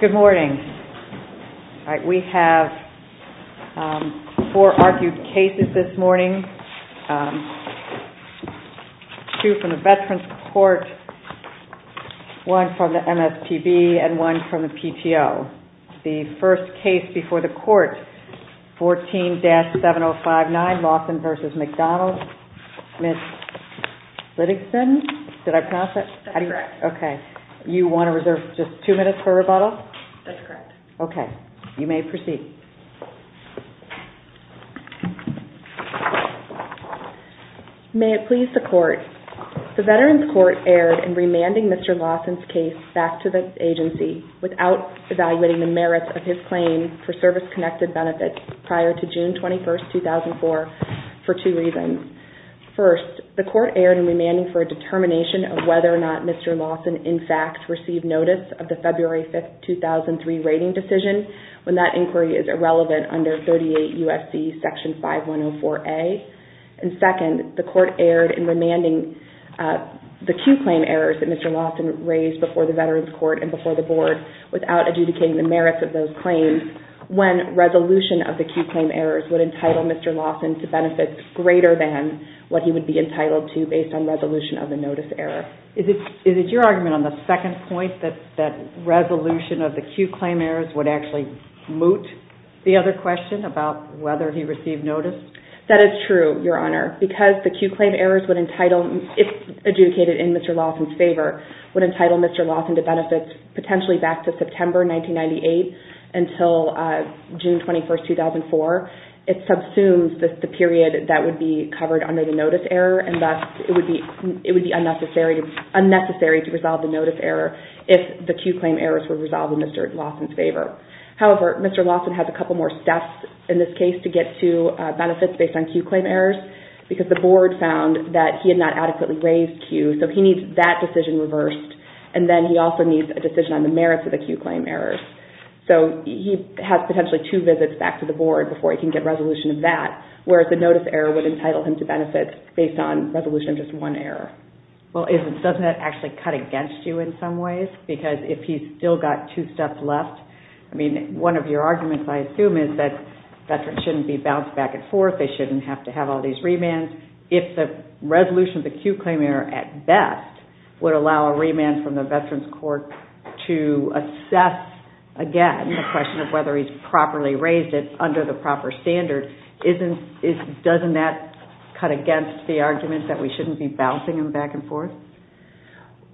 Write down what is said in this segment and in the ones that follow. Good morning. We have four argued cases this morning. Two from the Veterans Court, one from the MSPB, and one from the PTO. The first case before the court, 14-7059 Lawson v. McDonald, Ms. Liddigson. Did I pronounce that? Okay. You want to reserve just two minutes for rebuttal? That's correct. Okay. You may proceed. May it please the court, the Veterans Court erred in remanding Mr. Lawson's case back to the agency without evaluating the merits of his claim for service-connected benefits prior to June 21, 2004, for two reasons. First, the court erred in remanding for a determination of whether or not Mr. Lawson in fact received notice of the February 5, 2003 rating decision when that inquiry is irrelevant under 38 U.S.C. Section 5104A. And second, the court erred in remanding the Q claim errors that Mr. Lawson raised before the Veterans Court and before the board without adjudicating the merits of those claims when resolution of the Q claim errors would entitle Mr. Lawson to benefits greater than what he would be entitled to based on resolution of the notice error. Is it your argument on the second point that resolution of the Q claim errors would actually moot the other question about whether he received notice? That is true, Your Honor, because the Q claim errors would entitle, if adjudicated in Mr. Lawson's favor, would entitle Mr. Lawson to benefits potentially back to September 1998 until June 21, 2004. It subsumes the period that would be covered under the notice error and thus it would be unnecessary to resolve the notice error if the Q claim errors were resolved in Mr. Lawson's favor. However, Mr. Lawson has a couple more steps in this case to get to benefits based on Q claim errors because the board found that he had not adequately raised Q. So he needs that decision reversed and then he also needs a decision on the merits of the Q claim errors. So he has potentially two visits back to the board before he can get resolution of that, whereas the notice error would entitle him to benefits based on resolution of just one error. Well, doesn't that actually cut against you in some ways? Because if he's still got two left, I mean, one of your arguments, I assume, is that veterans shouldn't be bounced back and forth. They shouldn't have to have all these remands. If the resolution of the Q claim error at best would allow a remand from the veterans court to assess again the question of whether he's properly raised it under the proper standard, doesn't that cut against the argument that we shouldn't be bouncing them back and forth?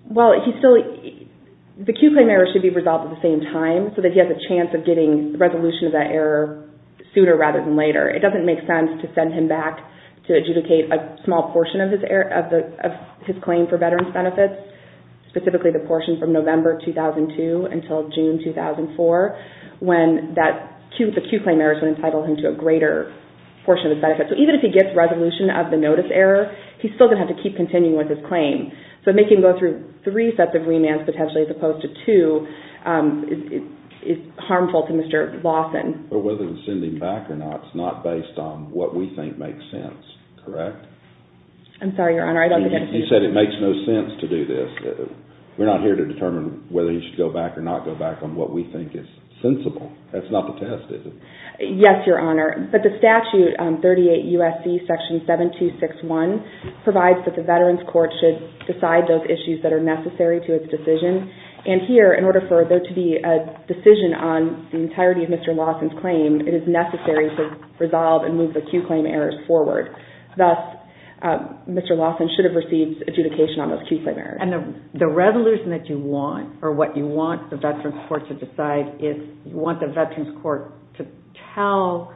Well, the Q claim error should be resolved at the same time so that he has a chance of getting the resolution of that error sooner rather than later. It doesn't make sense to send him back to adjudicate a small portion of his claim for veterans benefits, specifically the portion from November 2002 until June 2004 when the Q claim errors would entitle him to a greater portion of the benefit. So even if he gets resolution of the notice error, he's still going to have to keep continuing with his claim. So making him go through three sets of remands potentially as opposed to two is harmful to Mr. Lawson. But whether to send him back or not is not based on what we think makes sense, correct? I'm sorry, Your Honor, I don't think that's... He said it makes no sense to do this. We're not here to determine whether he should go back or not go back on what we think is sensible. That's not the test, is it? Yes, Your Honor. But the statute, 38 U.S.C. section 7261, provides that the veterans court should decide those issues that are necessary to its decision. And here, in order for there to be a decision on the entirety of Mr. Lawson's claim, it is necessary to resolve and move the Q claim errors forward. Thus, Mr. Lawson should have received adjudication on those Q claim errors. And the resolution that you want or what you want the veterans court to decide is you want the veterans court to tell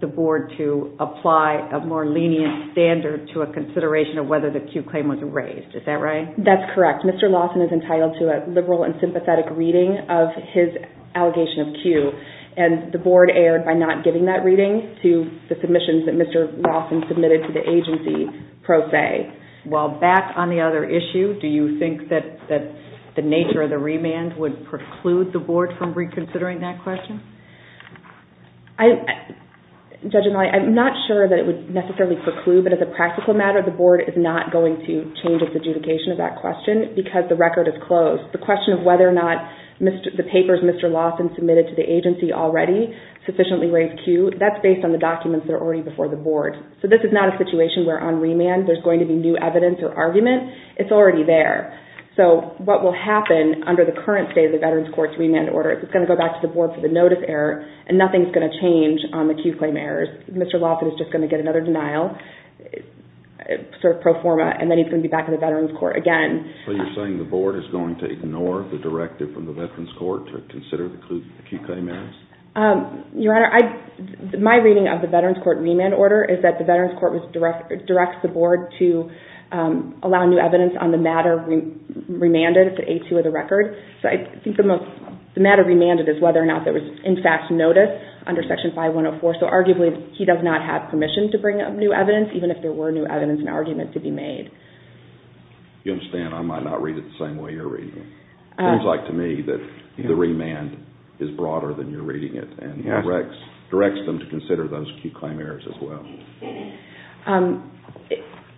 the board to apply a more lenient standard to a consideration of whether the Q claim was raised. Is that right? That's correct. Mr. Lawson is entitled to a liberal and sympathetic reading of his allegation of Q. And the board erred by not giving that reading to the submissions that Mr. Lawson submitted to the agency pro se. Well, back on the other issue, do you think that the nature of the remand would preclude the board from reconsidering that question? Judge Annalena, I'm not sure that it would necessarily preclude, but as a practical matter, the board is not going to change its adjudication of that question because the record is closed. The question of whether or not the papers Mr. Lawson submitted to the agency already sufficiently raised Q, that's based on the documents that are already before the board. So this is not a situation where on remand there's going to be new evidence or argument. It's already there. So what will happen under the current state of the veterans court's remand order is it's going to go back to the board for the notice error and nothing's going to change on the Q claim errors. Mr. Lawson is just going to get another denial. Then he's going to be back in the veterans court again. So you're saying the board is going to ignore the directive from the veterans court to consider the Q claim errors? Your Honor, my reading of the veterans court remand order is that the veterans court directs the board to allow new evidence on the matter remanded to A2 of the record. So I think the matter remanded is whether or not there was, in fact, notice under section 5104. So arguably, he does not have permission to bring up new evidence, even if there were new evidence and argument to be made. You understand I might not read it the same way you're reading it. It seems like to me that the remand is broader than you're reading it and directs them to consider those Q claim errors as well.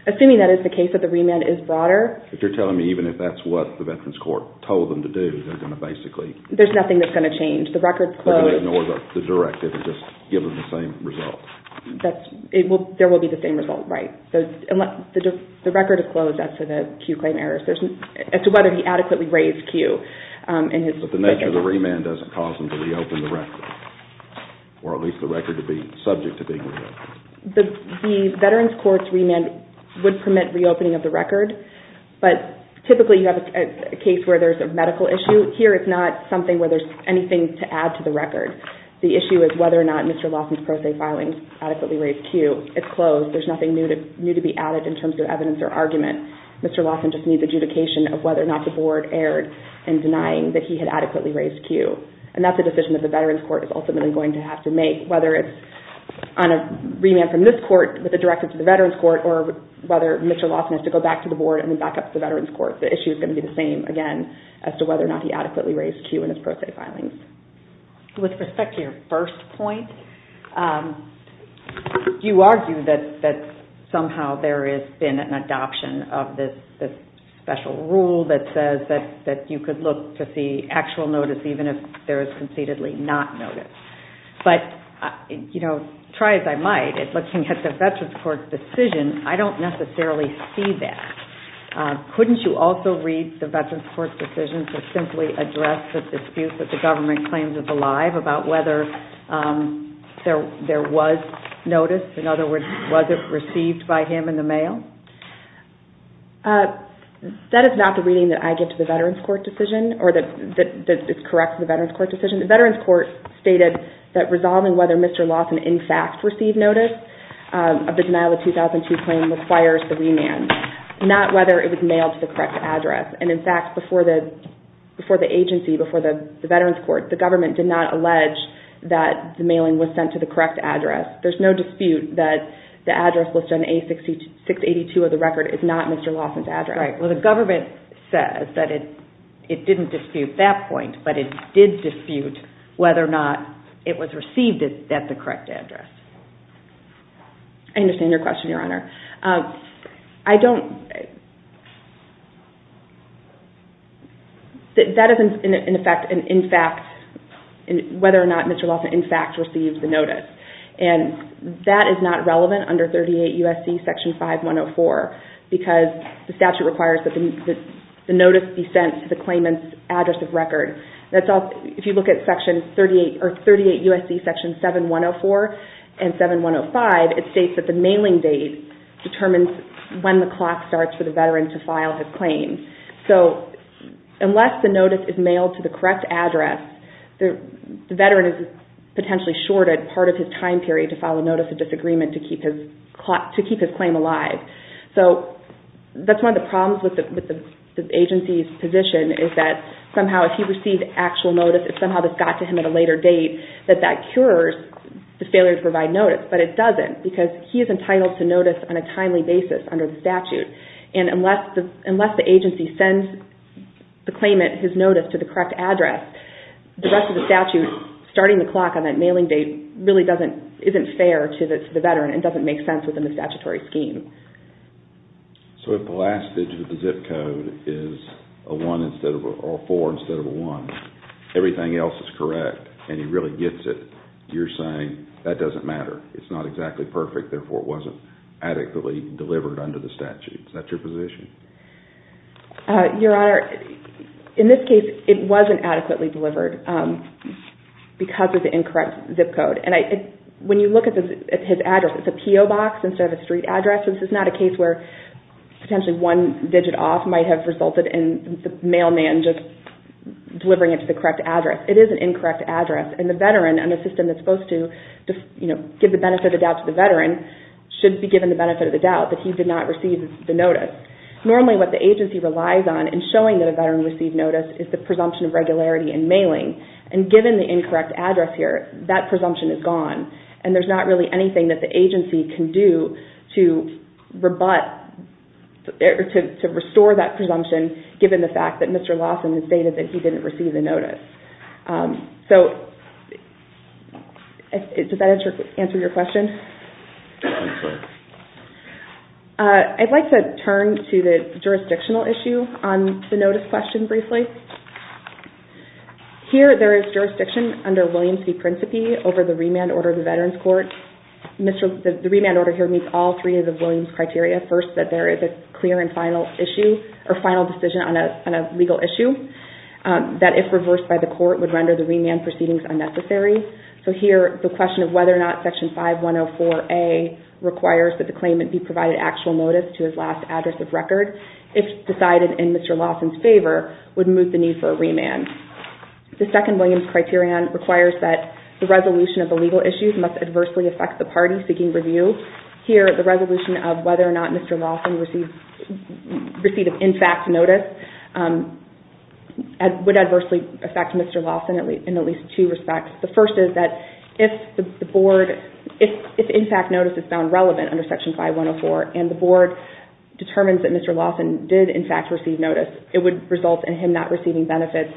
Assuming that is the case, that the remand is broader. If you're telling me even if that's what the veterans court told them to do, they're going to basically... There's nothing that's going to change. The record's closed. They're going to ignore the directive and just give them the same result. That's... There will be the same result. Right. So the record is closed as to the Q claim errors. There's... As to whether he adequately raised Q in his... But the nature of the remand doesn't cause them to reopen the record. Or at least the record to be subject to being reopened. The veterans court's remand would permit reopening of the record. But typically, you have a case where there's a medical issue. The issue is whether or not Mr. Lawson's pro se filings adequately raised Q. It's closed. There's nothing new to be added in terms of evidence or argument. Mr. Lawson just needs adjudication of whether or not the board erred in denying that he had adequately raised Q. And that's a decision that the veterans court is ultimately going to have to make. Whether it's on a remand from this court with a directive to the veterans court, or whether Mr. Lawson has to go back to the board and then back up to the veterans court. The issue is going to be the same, again, as to whether or not he adequately raised Q in his pro se filings. With respect to your first point, you argue that somehow there has been an adoption of this special rule that says that you could look to see actual notice even if there is concededly not notice. But try as I might, looking at the veterans court's decision, I don't necessarily see that. Couldn't you also read the veterans court's decision to simply address the dispute that the government claims is alive about whether there was notice? In other words, was it received by him in the mail? That is not the reading that I give to the veterans court decision, or that is correct to the veterans court decision. The veterans court stated that resolving whether Mr. Lawson in fact received notice of the denial of 2002 claim requires the remand. Not whether it was mailed to the correct address. In fact, before the agency, before the veterans court, the government did not allege that the mailing was sent to the correct address. There is no dispute that the address listed on A-682 of the record is not Mr. Lawson's address. The government says that it didn't dispute that point, but it did dispute whether or not it was received at the correct address. I understand your question, Your Honor. That is in effect, whether or not Mr. Lawson in fact received the notice. And that is not relevant under 38 U.S.C. Section 5104, because the statute requires that the notice be sent to the claimant's address of record. If you look at 38 U.S.C. Section 7104 and 7105, it states that the mailing date determines when the clock starts for the veteran to file his claim. Unless the notice is mailed to the correct address, the veteran is potentially shorted part of his time period to file a notice of disagreement to keep his claim alive. That's one of the problems with the agency's position is that somehow if he received actual notice, if somehow this got to him at a later date, that that cures the failure to provide because he is entitled to notice on a timely basis under the statute. And unless the agency sends the claimant his notice to the correct address, the rest of the statute starting the clock on that mailing date really isn't fair to the veteran and doesn't make sense within the statutory scheme. So if the last digit of the zip code is a four instead of a one, everything else is correct and he really gets it, you're saying that doesn't matter. It's not exactly perfect. Therefore, it wasn't adequately delivered under the statute. Is that your position? Your Honor, in this case, it wasn't adequately delivered because of the incorrect zip code. And when you look at his address, it's a P.O. box instead of a street address. This is not a case where potentially one digit off might have resulted in the mailman just delivering it to the correct address. It is an incorrect address. And the veteran and the system that's supposed to give the benefit of the doubt to the veteran should be given the benefit of the doubt that he did not receive the notice. Normally, what the agency relies on in showing that a veteran received notice is the presumption of regularity in mailing. And given the incorrect address here, that presumption is gone. And there's not really anything that the agency can do to rebut or to restore that presumption given the fact that Mr. Lawson has stated that he didn't receive the notice. So does that answer your question? I'm sorry. I'd like to turn to the jurisdictional issue on the notice question briefly. Here, there is jurisdiction under Williams v. Principi over the remand order of the Veterans Court. The remand order here meets all three of the Williams criteria. First, that there is a clear and final issue or final decision on a legal issue. That if reversed by the court, would render the remand proceedings unnecessary. So here, the question of whether or not Section 5104A requires that the claimant be provided actual notice to his last address of record, if decided in Mr. Lawson's favor, would move the need for a remand. The second Williams criterion requires that the resolution of the legal issues must adversely affect the party seeking review. Here, the resolution of whether or not Mr. Lawson received in fact notice would adversely affect Mr. Lawson in at least two respects. The first is that if the board, if in fact notice is found relevant under Section 5104, and the board determines that Mr. Lawson did in fact receive notice, it would result in him not receiving benefits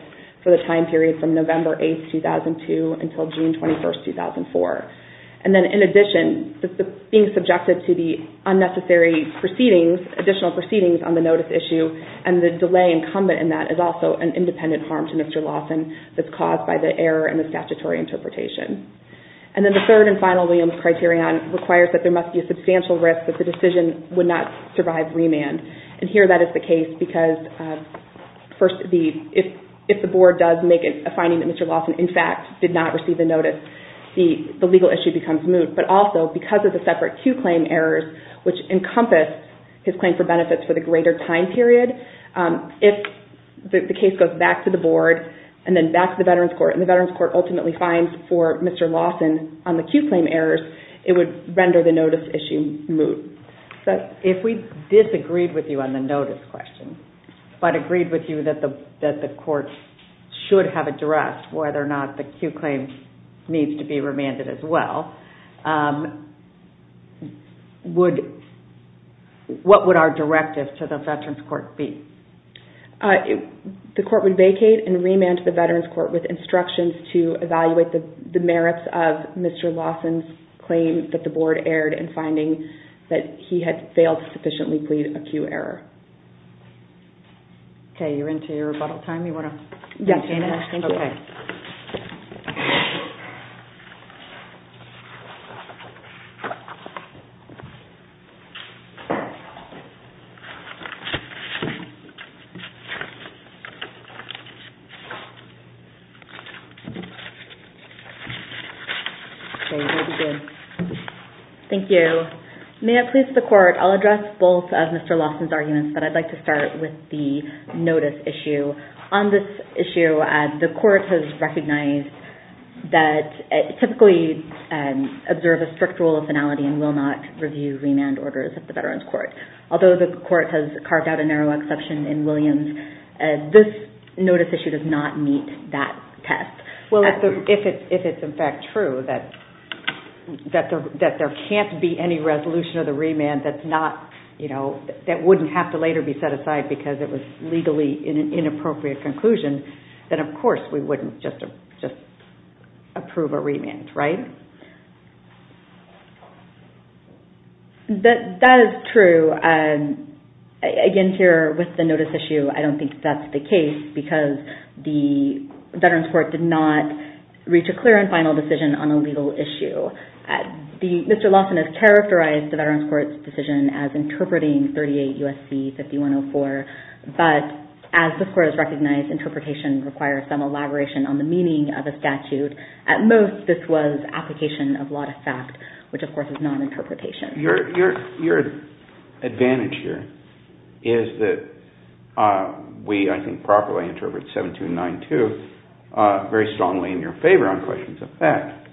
for the time period from November 8, 2002, until June 21, 2004. And then in addition, being subjected to the unnecessary proceedings, additional proceedings on the notice issue, and the delay incumbent in that is also an independent harm to Mr. Lawson that's caused by the error in the statutory interpretation. And then the third and final Williams criterion requires that there must be a substantial risk that the decision would not survive remand. And here, that is the case because first, if the board does make a finding that Mr. Lawson, in fact, did not receive the notice, the legal issue becomes moot. But also, because of the separate Q claim errors, which encompass his claim for benefits for the greater time period, if the case goes back to the board, and then back to the Veterans Court, and the Veterans Court ultimately finds for Mr. Lawson on the Q claim errors, it would render the notice issue moot. So if we disagreed with you on the notice question, but agreed with you that the court should have addressed whether or not the Q claim needs to be remanded as well, would, what would our directive to the Veterans Court be? The court would vacate and remand to the Veterans Court with instructions to evaluate the merits of Mr. Lawson's claim that the board erred in finding that he had failed to sufficiently plead a Q error. Okay, you're into your rebuttal time. You want to? Yes. Okay, you may begin. Thank you. May it please the court, I'll address both of Mr. Lawson's arguments, but I'd like to start with the notice issue. On this issue, the court has recognized that, typically, observe a strict rule of finality and will not review remand orders at the Veterans Court. Although the court has carved out a narrow exception in Williams, this notice issue does not meet that test. Well, if it's in fact true that there can't be any resolution of the remand that's not, you know, that wouldn't have to later be set aside because it was legally an inappropriate conclusion, then of course we wouldn't just approve a remand, right? That is true. Again, here with the notice issue, I don't think that's the case because the Veterans Court did not reach a clear and final decision on a legal issue. Mr. Lawson has characterized the Veterans Court's decision as interpreting 38 U.S.C. 5104, but as the court has recognized, interpretation requires some elaboration on the meaning of a statute. At most, this was application of lot of fact, which of course is not interpretation. Your advantage here is that we, I think, properly interpret 7292 very strongly in your favor on questions of fact.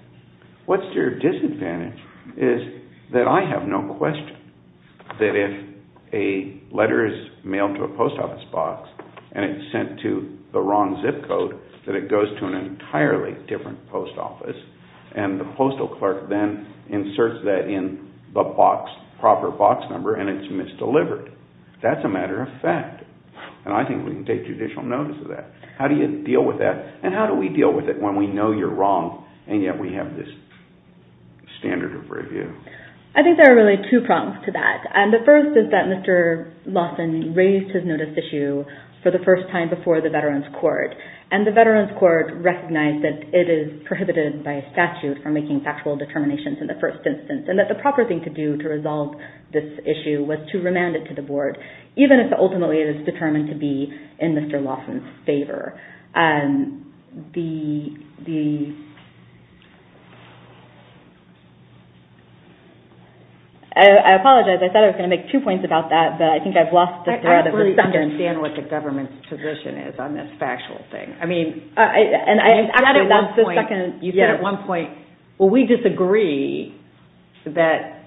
What's your disadvantage is that I have no question that if a letter is mailed to a post office box, and it's sent to the wrong zip code, that it goes to an entirely different post office, and the postal clerk then inserts that in the box, proper box number, and it's misdelivered. That's a matter of fact, and I think we can take judicial notice of that. How do you deal with that, and how do we deal with it when we know you're wrong, and yet we have this standard of review? I think there are really two problems to that. The first is that Mr. Lawson raised his notice issue for the first time before the Veterans Court, and the Veterans Court recognized that it is prohibited by statute for making factual determinations in the first instance, and that the proper thing to do to resolve this issue was to remand it to the board, even if ultimately it is determined to be in Mr. Lawson's favor. I apologize, I thought I was going to make two points about that, but I think I've lost the thread of the subject. I don't really understand what the government's position is on this factual thing. I mean, you said at one point, well, we disagree that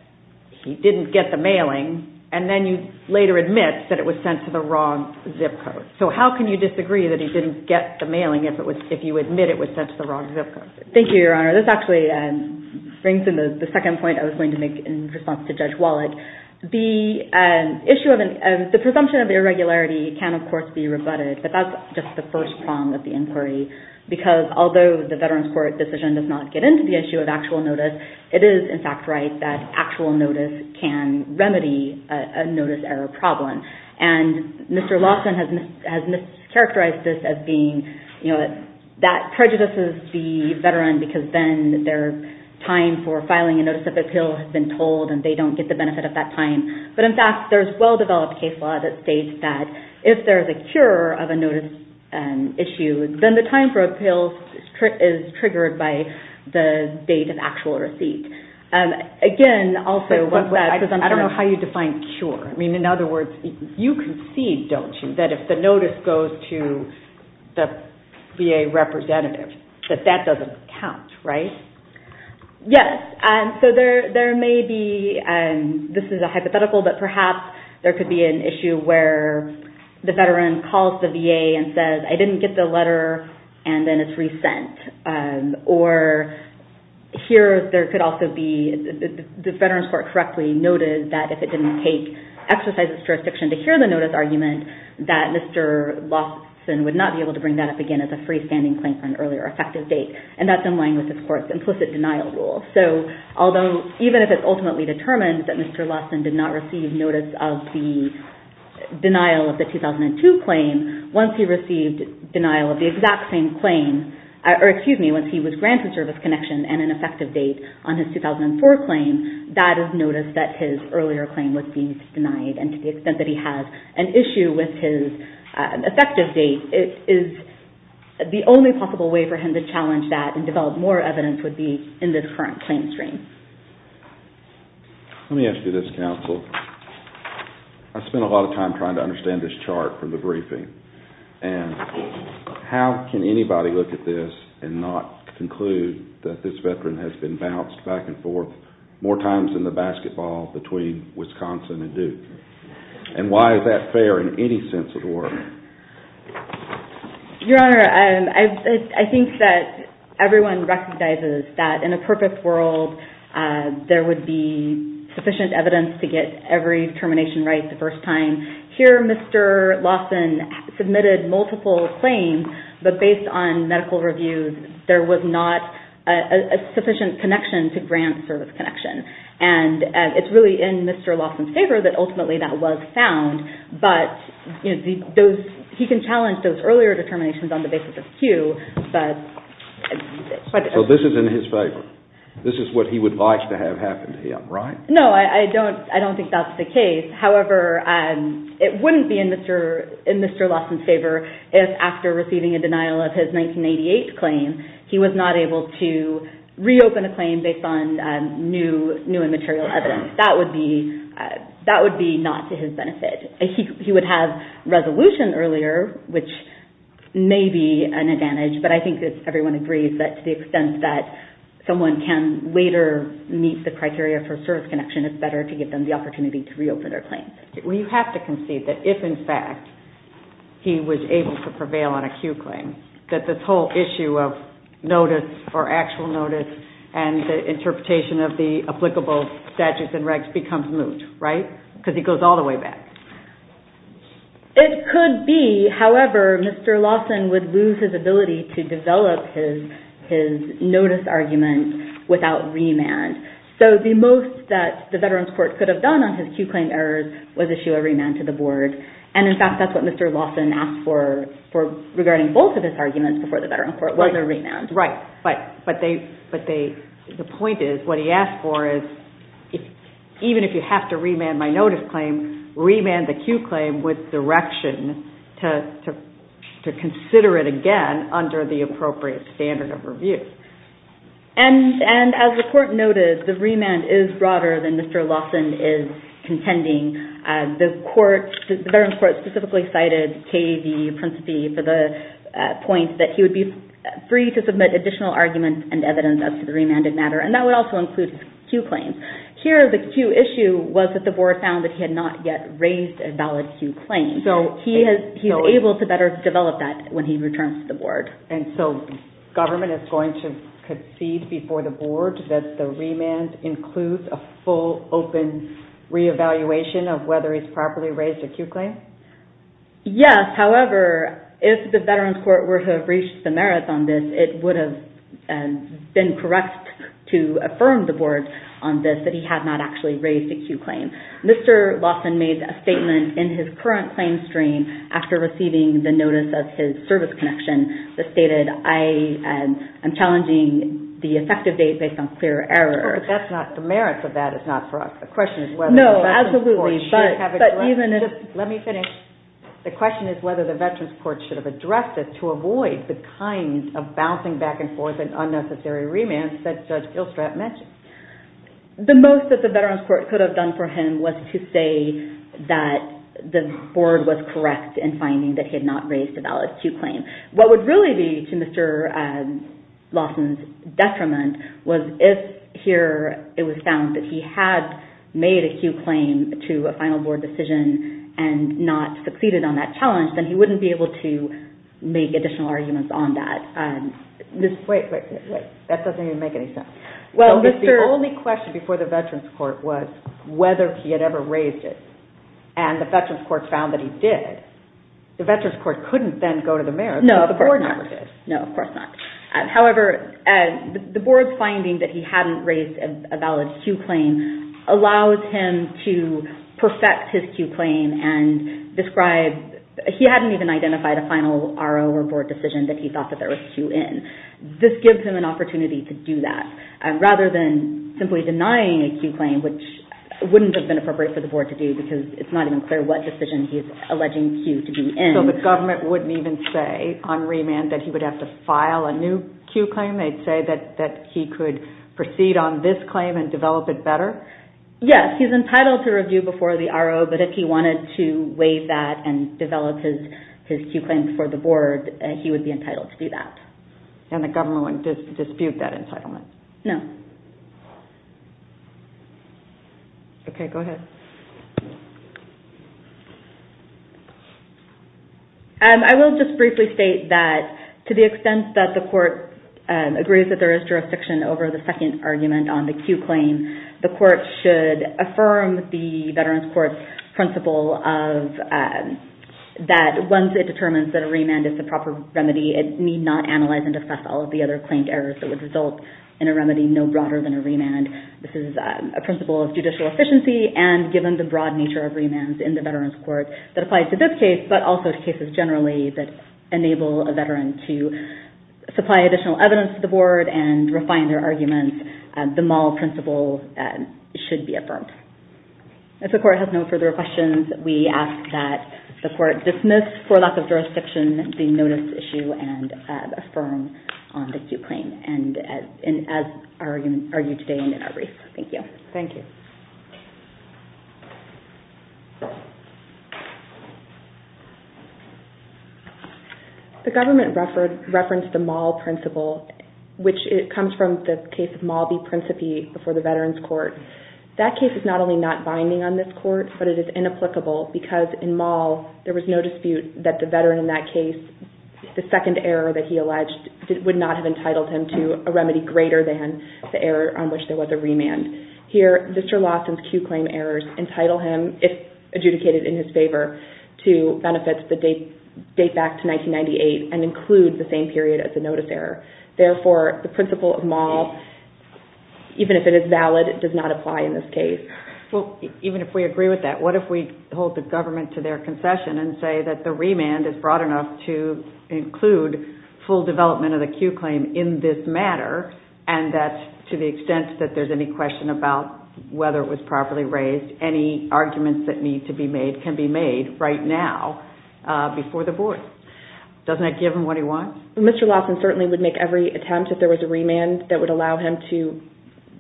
he didn't get the mailing, and then you later admit that it was sent to the wrong zip code. So how can you disagree that he didn't get the mailing, if you admit it was sent to the wrong zip code? Thank you, Your Honor. This actually brings in the second point I was going to make in response to Judge Wallach. The presumption of irregularity can, of course, be rebutted, but that's just the first prong of the inquiry, because although the Veterans Court decision does not get into the issue of actual notice, it is, in fact, right that actual notice can remedy a notice error problem, and Mr. Lawson has mischaracterized this as being that that prejudices the veteran, because then their time for filing a notice of appeal has been told, and they don't get the benefit of that time. But in fact, there's well-developed case law that states that if there's a cure of a notice issue, then the time for appeal is triggered by the date of actual receipt. Again, also, what's that? I don't know how you define cure. In other words, you concede, don't you, that if the notice goes to the VA representative, that that doesn't count, right? Yes. This is a hypothetical, but perhaps there could be an issue where the veteran calls the VA and says, I didn't get the letter, and then it's resent. Or here, there could also be the veteran's court correctly noted that if it didn't take exercise of jurisdiction to hear the notice argument, that Mr. Lawson would not be able to bring that up again as a freestanding claim from an earlier effective date. And that's in line with the court's implicit denial rule. So although even if it's ultimately determined that Mr. Lawson did not receive notice of the denial of the 2002 claim, once he received denial of the exact same claim, or excuse me, once he was granted service connection and an effective date on his 2004 claim, that is notice that his earlier claim was being denied. And to the extent that he has an issue with his effective date, it is the only possible way for him to challenge that and develop more evidence would be in this current claim stream. Let me ask you this, counsel. I spent a lot of time trying to understand this chart from the briefing. And how can anybody look at this and not conclude that this veteran has been bounced back and forth more times than the basketball between Wisconsin and Duke? And why is that fair in any sense of the word? Your Honor, I think that everyone recognizes that in a perfect world, there would be sufficient evidence to get every termination right the first time. Here, Mr. Lawson submitted multiple claims, but based on medical reviews, there was not a sufficient connection to grant service connection. And it's really in Mr. Lawson's favor that ultimately that was found. But he can challenge those earlier determinations on the basis of cue. So this is in his favor? This is what he would like to have happen to him, right? No, I don't think that's the case. However, it wouldn't be in Mr. Lawson's favor if after receiving a denial of his 1988 claim, he was not able to reopen a claim based on new immaterial evidence. That would be not to his benefit. He would have resolution earlier, which may be an advantage, but I think that everyone agrees that to the extent that someone can later meet the criteria for service connection, it's better to give them the opportunity to reopen their claims. We have to concede that if, in fact, he was able to prevail on a cue claim, that this whole issue of notice or actual notice and the interpretation of the applicable statutes and regs becomes moot, right? Because he goes all the way back. It could be. However, Mr. Lawson would lose his ability to develop his notice argument without remand. So the most that the Veterans Court could have done on his cue claim errors was issue a remand to the board. And in fact, that's what Mr. Lawson asked for regarding both of his arguments before the Veterans Court was a remand. Right, but the point is, what he asked for is, even if you have to remand my notice claim, remand the cue claim with direction to consider it again under the appropriate standard of review. And as the court noted, the remand is broader than Mr. Lawson is contending. The Veterans Court specifically cited K.E.V. Principe for the point that he would be free to submit additional arguments and evidence as to the remanded matter, and that would also include cue claims. Here, the cue issue was that the board found that he had not yet raised a valid cue claim. So he's able to better develop that when he returns to the board. And so government is going to concede before the board that the remand includes a full open re-evaluation of whether he's properly raised a cue claim? Yes, however, if the Veterans Court were to have reached the merits on this, it would have been correct to affirm the board on this that he had not actually raised a cue claim. Mr. Lawson made a statement in his current claim stream after receiving the notice of his service connection. He stated, I am challenging the effective date based on clear error. Oh, but that's not the merits of that. It's not for us. The question is whether the Veterans Court should have addressed it. Let me finish. The question is whether the Veterans Court should have addressed it to avoid the kind of bouncing back and forth and unnecessary remands that Judge Gilstrap mentioned. The most that the Veterans Court could have done for him was to say that the board was correct in finding that he had not raised a valid cue claim. What would really be to Mr. Lawson's detriment was if here it was found that he had made a cue claim to a final board decision and not succeeded on that challenge, then he wouldn't be able to make additional arguments on that. Wait, wait, wait. That doesn't even make any sense. Well, the only question before the Veterans Court was whether he had ever raised it. And the Veterans Court found that he did. The Veterans Court couldn't then go to the merits. No, of course not. No, of course not. However, the board's finding that he hadn't raised a valid cue claim allows him to perfect his cue claim and describe... He hadn't even identified a final RO or board decision that he thought that there was a cue in. This gives him an opportunity to do that. Rather than simply denying a cue claim, which wouldn't have been appropriate for the board to do because it's not even clear what decision he's alleging cue to be in. So the government wouldn't even say on remand that he would have to file a new cue claim? They'd say that he could proceed on this claim and develop it better? Yes, he's entitled to review before the RO, but if he wanted to waive that and develop his cue claims for the board, he would be entitled to do that. And the government wouldn't dispute that entitlement? No. Okay, go ahead. I will just briefly state that to the extent that the court agrees that there is jurisdiction over the second argument on the cue claim, the court should affirm the Veterans Court's principle of... That once it determines that a remand is the proper remedy, it need not analyze and discuss all of the other claimed errors that would result in a remedy no broader than a remand. This is a principle of judicial efficiency and given the broad nature of remands in the Veterans Court that applies to this case, but also to cases generally that enable a veteran to supply additional evidence to the board and refine their arguments, the mall principle should be affirmed. If the court has no further questions, we ask that the court dismiss for lack of jurisdiction the notice issue and affirm on the cue claim. And as argued today and in our brief. Thank you. Thank you. The government referenced the mall principle, which comes from the case of Malby-Principe before the Veterans Court. That case is not only not binding on this court, but it is inapplicable because in mall, there was no dispute that the veteran in that case, the second error that he alleged would not have entitled him to a remedy greater than the error on which there was a remand. Here, Mr. Lawson's cue claim errors entitle him, if adjudicated in his favor, to benefits that date back to 1998 and include the same period as the notice error. Therefore, the principle of mall, even if it is valid, does not apply in this case. Well, even if we agree with that, what if we hold the government to their concession and say that the remand is broad enough to include full development of the cue claim in this matter and that to the extent that there's any question about whether it was properly raised, any arguments that need to be made can be made right now before the board? Doesn't that give him what he wants? Mr. Lawson certainly would make every attempt if there was a remand that would allow him to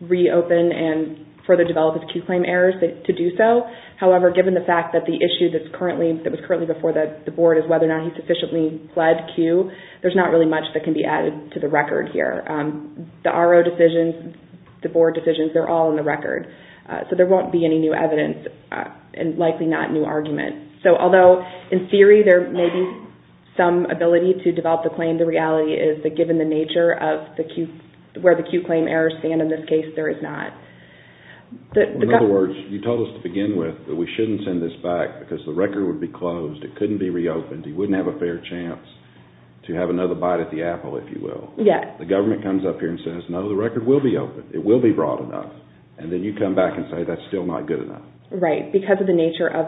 reopen and further develop his cue claim errors to do so. However, given the fact that the issue that was currently before the board is whether or not he sufficiently fled cue, there's not really much that can be added to the record here. The RO decisions, the board decisions, they're all in the record. So there won't be any new evidence and likely not new argument. So although in theory there may be some ability to develop the claim, the reality is that given the nature of where the cue claim errors stand in this case, there is not. In other words, you told us to begin with that we shouldn't send this back because the record would be closed. It couldn't be reopened. He wouldn't have a fair chance to have another bite at the apple, if you will. Yes. The government comes up here and says, no, the record will be open. It will be broad enough. And then you come back and say, that's still not good enough. Right. Because of the nature of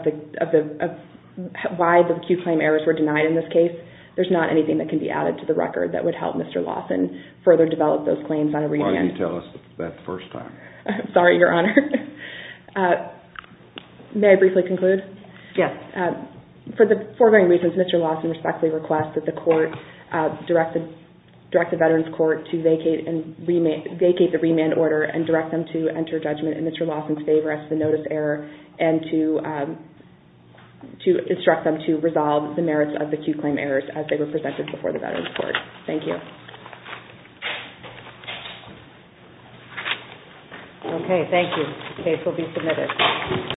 why the cue claim errors were denied in this case, there's not anything that can be added to the record that would help Mr. Lawson further develop those claims on a remand. Why didn't you tell us that the first time? Sorry, Your Honor. May I briefly conclude? Yes. For the four main reasons, Mr. Lawson respectfully requests that the court, direct the Veterans Court to vacate the remand order and direct them to enter judgment in Mr. Lawson's favor as to the notice error and to instruct them to resolve the merits of the cue claim errors as they were presented before the Veterans Court. Okay. Thank you. The case will be submitted.